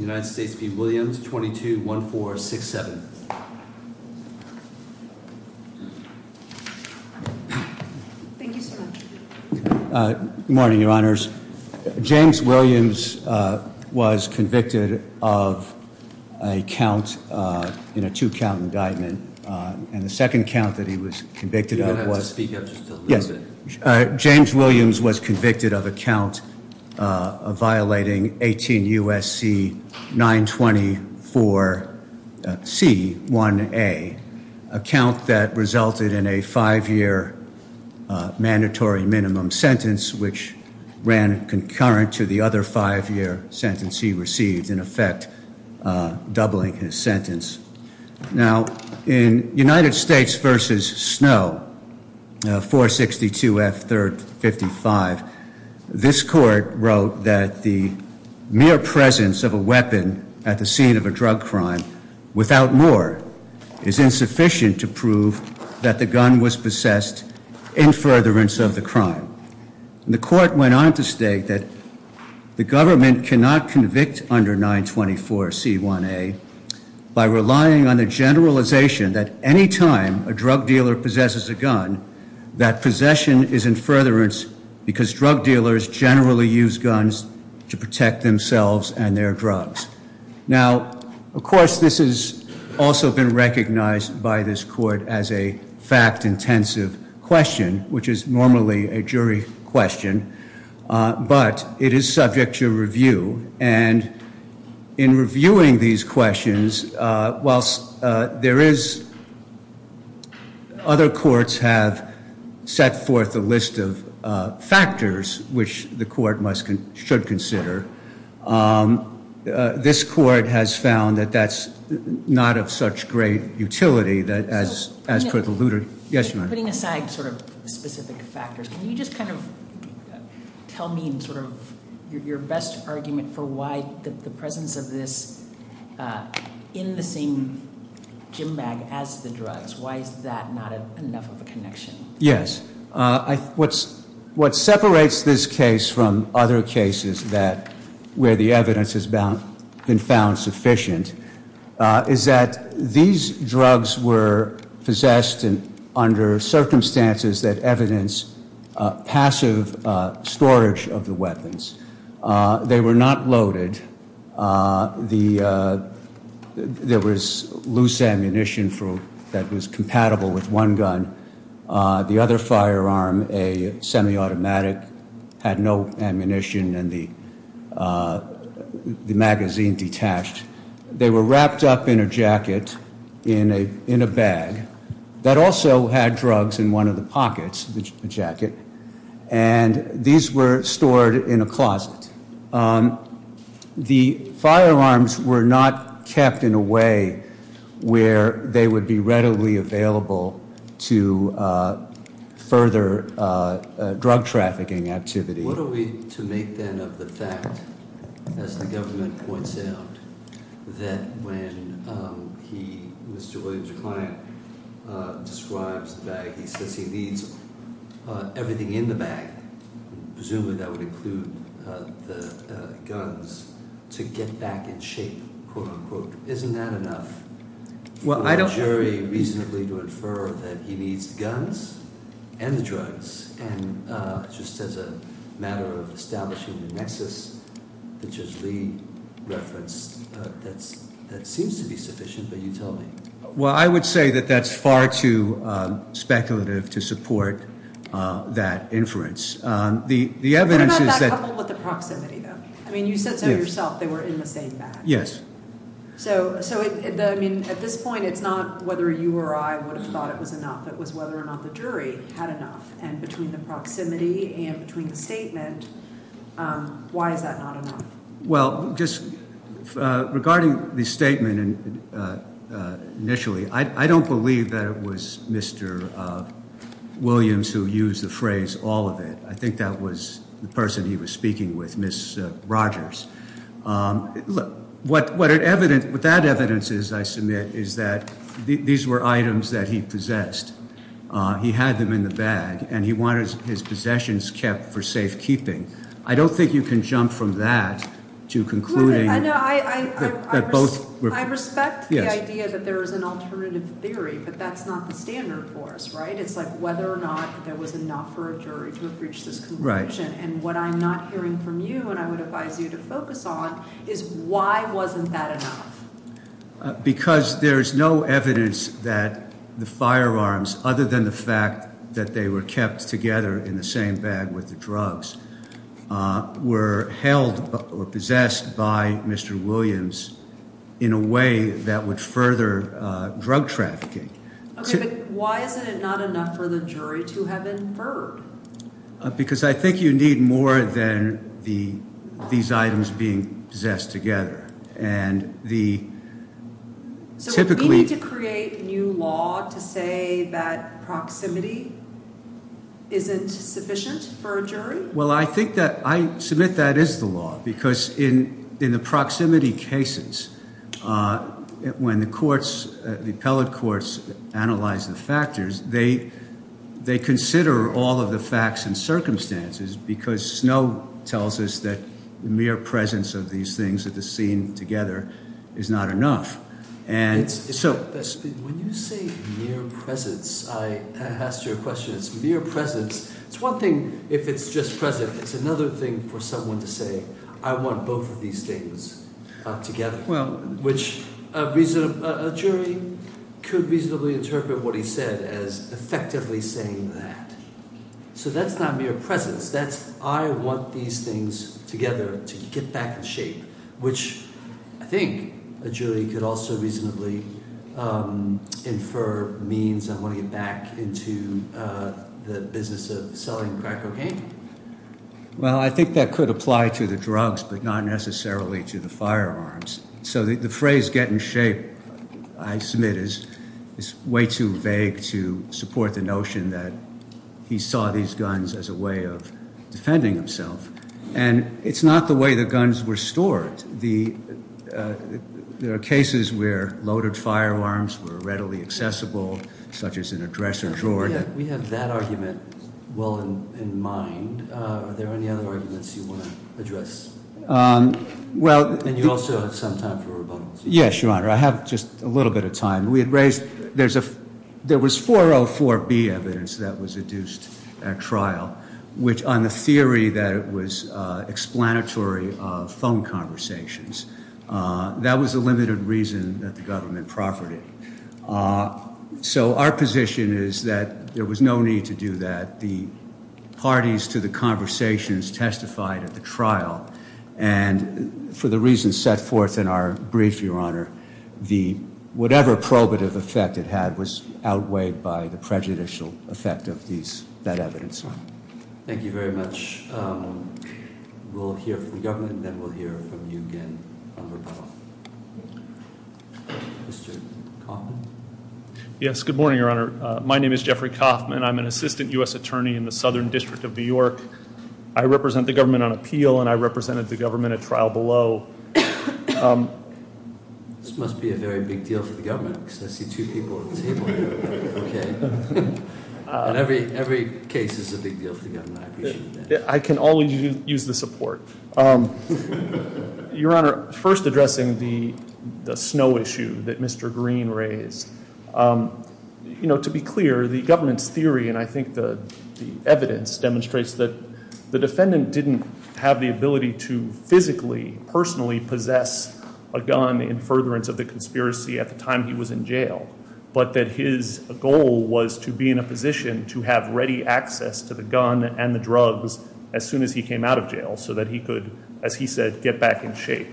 James Williams was convicted of a count in a two count indictment and the second count that he was convicted of was James Williams was convicted of a count of violating 18 U.S.C. 924 C 1a, a count that resulted in a five-year mandatory minimum sentence which ran concurrent to the other five-year sentence he received, in effect doubling his sentence. Now in United States v. Snow, 462 F 3rd 55, this court wrote that the mere presence of a weapon at the scene of a drug crime without more is insufficient to prove that the gun was possessed in furtherance of the crime. And the court went on to state that the government cannot convict under 924 C 1a by relying on the generalization that any time a drug dealer possesses a gun, that possession is in furtherance because drug dealers generally use guns to protect themselves and their drugs. Now, of course, this has also been recognized by this court as a fact-intensive question, which is normally a jury question, but it is subject to review. And in reviewing these questions, whilst other courts have set forth a list of factors which the court should consider, this court has found that that's not of such great utility as per the- Yes, ma'am. You're putting aside sort of specific factors. Can you just kind of tell me sort of your best argument for why the presence of this in the same gym bag as the drugs? Why is that not enough of a connection? Yes, what separates this case from other cases where the evidence has been found sufficient is that these drugs were possessed and under circumstances that evidence passive storage of the weapons. They were not loaded. There was loose ammunition that was compatible with one gun. The other firearm, a semi-automatic, had no ammunition and the magazine detached. They were wrapped up in a jacket, in a bag, that also had drugs in one of the pockets of the jacket, and these were stored in a closet. The firearms were not kept in a way where they would be readily available to further drug trafficking activity. What are we to make then of the fact, as the government points out, that when he, Mr. Williams' client, describes the bag, he says he needs everything in the bag, presumably that would include the guns, to get back in shape, quote unquote. Isn't that enough for the jury reasonably to infer that he needs guns and drugs, and just as a matter of establishing the nexus, which is Lee referenced, that seems to be sufficient, but you tell me. Well, I would say that that's far too speculative to support that inference. The evidence is that- What about that couple with the proximity, though? I mean, you said so yourself, they were in the same bag. Yes. So, I mean, at this point, it's not whether you or I would have thought it was enough. It was whether or not the jury had enough, and between the proximity and between the statement, why is that not enough? Well, just regarding the statement initially, I don't believe that it was Mr. Williams who used the phrase all of it. I think that was the person he was speaking with, Ms. Rogers. What that evidence is, I submit, is that these were items that he possessed. He had them in the bag, and he wanted his possessions kept for safekeeping. I don't think you can jump from that to concluding that both were- I respect the idea that there is an alternative theory, but that's not the standard for us, right? It's like whether or not there was enough for a jury to have reached this conclusion, and what I'm not hearing from you, and I would advise you to focus on, is why wasn't that enough? Because there's no evidence that the firearms, other than the fact that they were kept together in the same bag with the drugs, were held or possessed by Mr. Williams in a way that would further drug trafficking. Okay, but why is it not enough for the jury to have inferred? Because I think you need more than these items being possessed together, and the typically- So we need to create a new law to say that proximity isn't sufficient for a jury? Well, I think that, I submit that is the law, because in the proximity cases, when the courts, the appellate courts, analyze the factors, they consider all of the facts and circumstances, because Snow tells us that mere presence of these things at the scene together is not enough, and so- When you say mere presence, I asked you a question, it's mere presence. It's one thing if it's just present, it's another thing for someone to say, I want both of these things together, which a jury could reasonably interpret what he said as effectively saying that. So that's not mere presence, that's I want these things together to get back in shape, which I think a jury could also reasonably infer means of going back into the business of selling crack cocaine. Well, I think that could apply to the drugs, but not necessarily to the firearms. So the phrase get in shape, I submit, is way too vague to support the notion that he saw these guns as a way of defending himself, and it's not the way the guns were stored. There are cases where loaded firearms were readily accessible, such as in a dresser drawer that- Are there any other arguments you want to address? Well- And you also have some time for rebuttals. Yes, your honor, I have just a little bit of time. We had raised, there was 404B evidence that was adduced at trial, which on the theory that it was explanatory of phone conversations. That was a limited reason that the government proffered it. So our position is that there was no need to do that. The parties to the conversations testified at the trial, and for the reasons set forth in our brief, your honor, whatever probative effect it had was outweighed by the prejudicial effect of that evidence. Thank you very much. We'll hear from the government, and then we'll hear from you again on rebuttal. Mr. Kaufman? Yes, good morning, your honor. My name is Jeffrey Kaufman. And I'm an assistant US attorney in the Southern District of New York. I represent the government on appeal, and I represented the government at trial below. This must be a very big deal for the government, because I see two people at the table here, okay. And every case is a big deal for the government, I appreciate that. I can only use the support. Your honor, first addressing the snow issue that Mr. Green raised. To be clear, the government's theory, and I think the evidence demonstrates that the defendant didn't have the ability to physically, personally possess a gun in furtherance of the conspiracy at the time he was in jail, but that his goal was to be in a position to have ready access to the gun and the drugs as soon as he came out of jail, so that he could, as he said, get back in shape.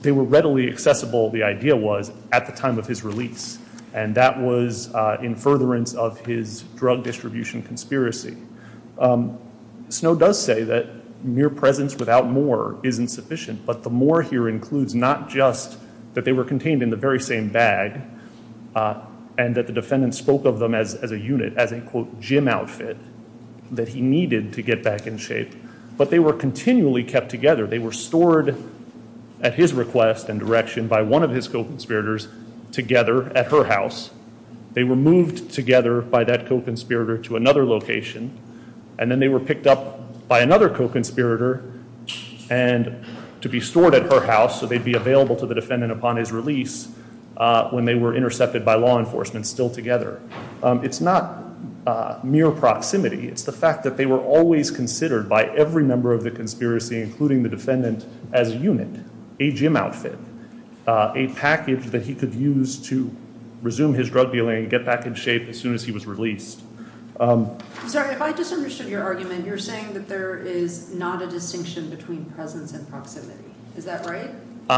They were readily accessible, the idea was, at the time of his release. And that was in furtherance of his drug distribution conspiracy. Snow does say that mere presence without more isn't sufficient. But the more here includes not just that they were contained in the very same bag, and that the defendant spoke of them as a unit, as a quote, gym outfit, that he needed to get back in shape. But they were continually kept together. They were stored at his request and direction by one of his co-conspirators together at her house. They were moved together by that co-conspirator to another location. And then they were picked up by another co-conspirator and to be stored at her house, so they'd be available to the defendant upon his release when they were intercepted by law enforcement still together. It's not mere proximity, it's the fact that they were always considered by every member of the conspiracy, including the defendant, as a unit, a gym outfit, a package that he could use to resume his drug dealing and get back in shape as soon as he was released. I'm sorry, if I just understood your argument, you're saying that there is not a distinction between presence and proximity, is that right?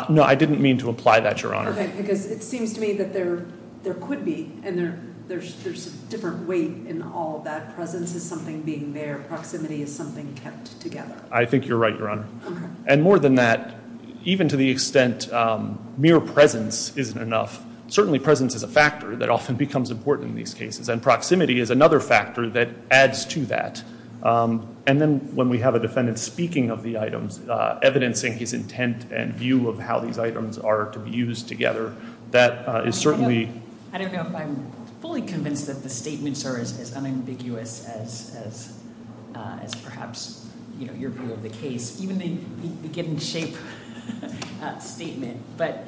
No, I didn't mean to apply that, Your Honor. Okay, because it seems to me that there could be, and there's a different weight in all of that. Presence is something being there, proximity is something kept together. I think you're right, Your Honor. And more than that, even to the extent mere presence isn't enough, certainly presence is a factor that often becomes important in these cases, and proximity is another factor that adds to that. And then when we have a defendant speaking of the items, evidencing his intent and view of how these items are to be used together, that is certainly- I don't know if I'm fully convinced that the statements are as unambiguous as perhaps your view of the case, even the get in shape statement. But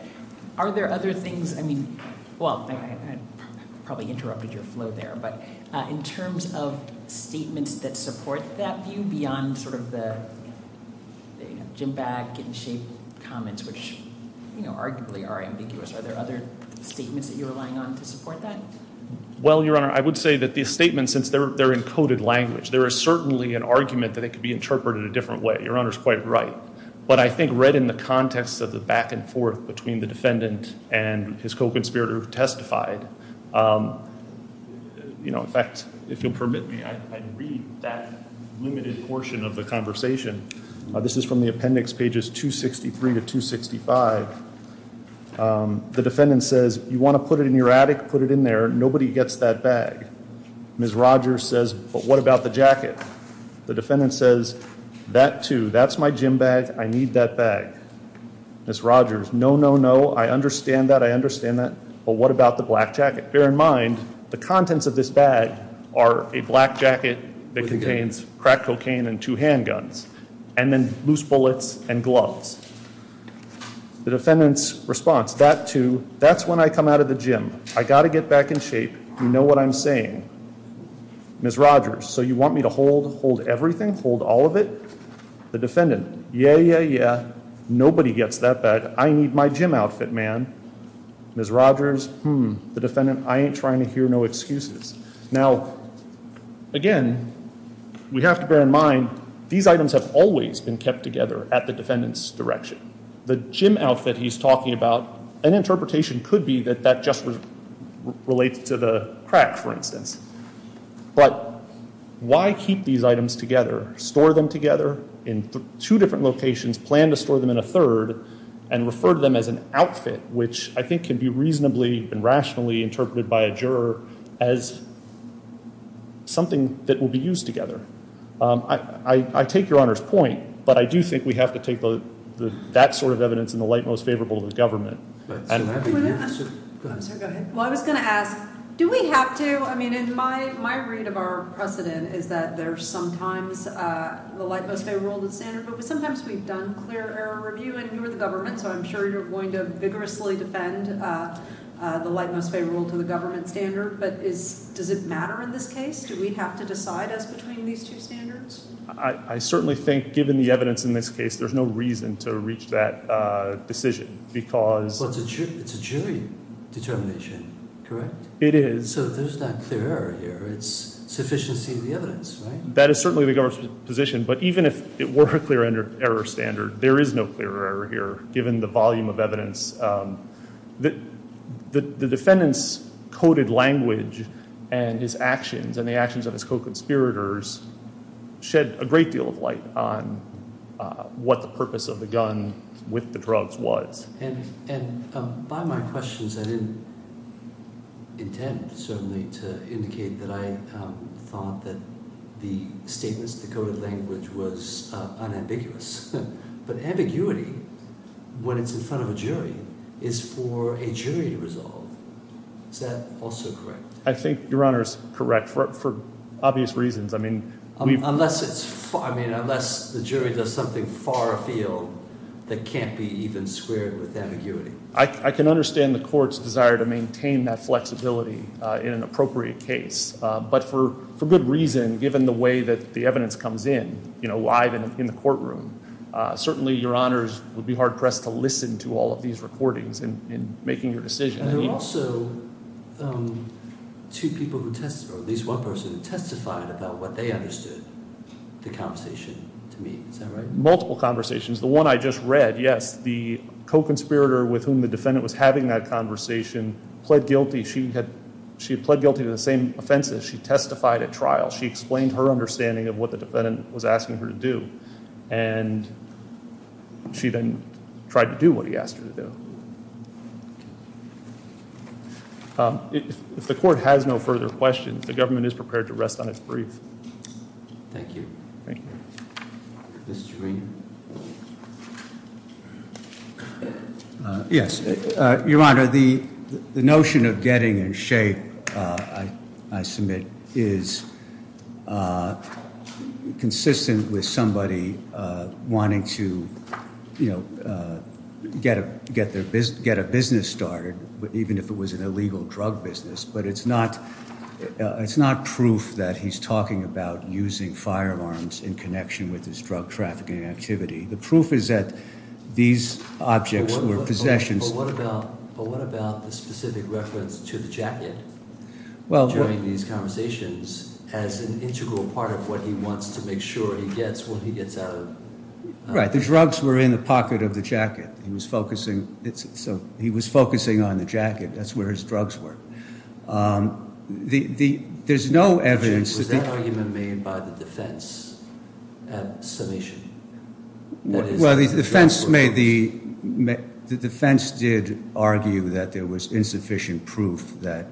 are there other things, I mean, well, I probably interrupted your flow there, but in terms of statements that support that view beyond sort of the Jim Bagg, get in shape comments, which arguably are ambiguous. Are there other statements that you're relying on to support that? Well, Your Honor, I would say that these statements, since they're in coded language, there is certainly an argument that it could be interpreted a different way. Your Honor's quite right. But I think read in the context of the back and forth between the defendant and his co-conspirator who testified. In fact, if you'll permit me, I'd read that limited portion of the conversation. This is from the appendix pages 263 to 265. The defendant says, you want to put it in your attic, put it in there, nobody gets that bag. Ms. Rogers says, but what about the jacket? The defendant says, that too, that's my gym bag, I need that bag. Ms. Rogers, no, no, no, I understand that, I understand that. But what about the black jacket? Bear in mind, the contents of this bag are a black jacket that contains crack cocaine and two handguns, and then loose bullets and gloves. The defendant's response, that too, that's when I come out of the gym. I gotta get back in shape, you know what I'm saying. Ms. Rogers, so you want me to hold everything, hold all of it? The defendant, yeah, yeah, yeah, nobody gets that bag, I need my gym outfit, man. Ms. Rogers, hmm, the defendant, I ain't trying to hear no excuses. Now, again, we have to bear in mind, these items have always been kept together at the defendant's direction. The gym outfit he's talking about, an interpretation could be that, that just relates to the crack, for instance. But why keep these items together? Store them together in two different locations, plan to store them in a third, and refer to them as an outfit, which I think can be reasonably and rationally interpreted by a juror as something that will be used together. I take your Honor's point, but I do think we have to take that sort of evidence in the light most favorable of the government. And- I'm sorry, go ahead. Well, I was gonna ask, do we have to, I mean, in my read of our precedent is that there's sometimes the light most favorable of the standard, but sometimes we've done clear error review, and you're the government, so I'm sure you're going to vigorously defend the light most favorable to the government's standard, but does it matter in this case, do we have to decide as between these two standards? I certainly think, given the evidence in this case, there's no reason to reach that decision, because- Well, it's a jury determination, correct? It is. So there's not clear error here, it's sufficiency of the evidence, right? That is certainly the government's position, but even if it were a clear error standard, there is no clear error here, given the volume of evidence. The defendant's coded language and his actions, and the actions of his co-conspirators, shed a great deal of light on what the purpose of the gun with the drugs was. I don't mean to indicate that I thought that the statements, the coded language was unambiguous, but ambiguity, when it's in front of a jury, is for a jury to resolve. Is that also correct? I think, Your Honor, it's correct, for obvious reasons. I mean, we've- Unless it's, I mean, unless the jury does something far afield, that can't be even squared with ambiguity. I can understand the court's desire to maintain that flexibility in an appropriate case, but for good reason, given the way that the evidence comes in, live in the courtroom, certainly, Your Honors would be hard-pressed to listen to all of these recordings in making your decision. There were also two people who testified, or at least one person who testified about what they understood the conversation to mean. Is that right? Multiple conversations. The one I just read, yes. The co-conspirator with whom the defendant was having that conversation pled guilty. She had pled guilty to the same offenses. She testified at trial. She explained her understanding of what the defendant was asking her to do. And she then tried to do what he asked her to do. If the court has no further questions, the government is prepared to rest on its brief. Thank you. Thank you. Mr. Rainer. Yes. Your Honor, the notion of getting in shape, I submit, is consistent with somebody wanting to get a business started, even if it was an illegal drug business, but it's not proof that he's talking about using firearms in connection with his drug trafficking activity. The proof is that these objects were possessions. But what about the specific reference to the jacket during these conversations as an integral part of what he wants to make sure he gets when he gets out of- Right, the drugs were in the pocket of the jacket. He was focusing on the jacket. That's where his drugs were. There's no evidence- Was that argument made by the defense at summation? Well, the defense did argue that there was insufficient proof that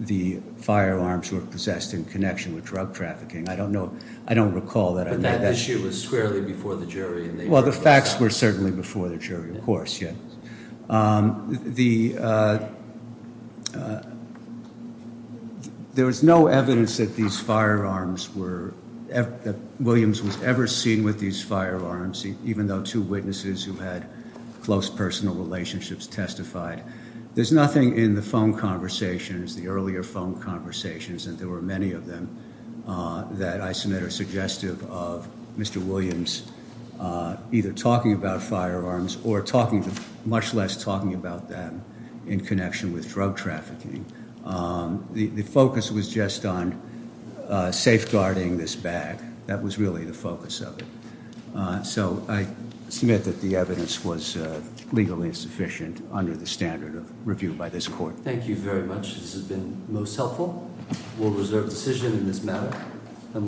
the firearms were possessed in connection with drug trafficking. I don't know, I don't recall that- But that issue was squarely before the jury and they- Well, the facts were certainly before the jury, of course, yeah. There was no evidence that these firearms were, that Williams was ever seen with these firearms, even though two witnesses who had close personal relationships testified. There's nothing in the phone conversations, the earlier phone conversations, and there were many of them, that I submit are suggestive of Mr. Williams not using firearms or talking to, much less talking about them in connection with drug trafficking. The focus was just on safeguarding this bag. That was really the focus of it. So I submit that the evidence was legally insufficient under the standard of review by this court. Thank you very much. This has been most helpful. We'll reserve decision in this matter.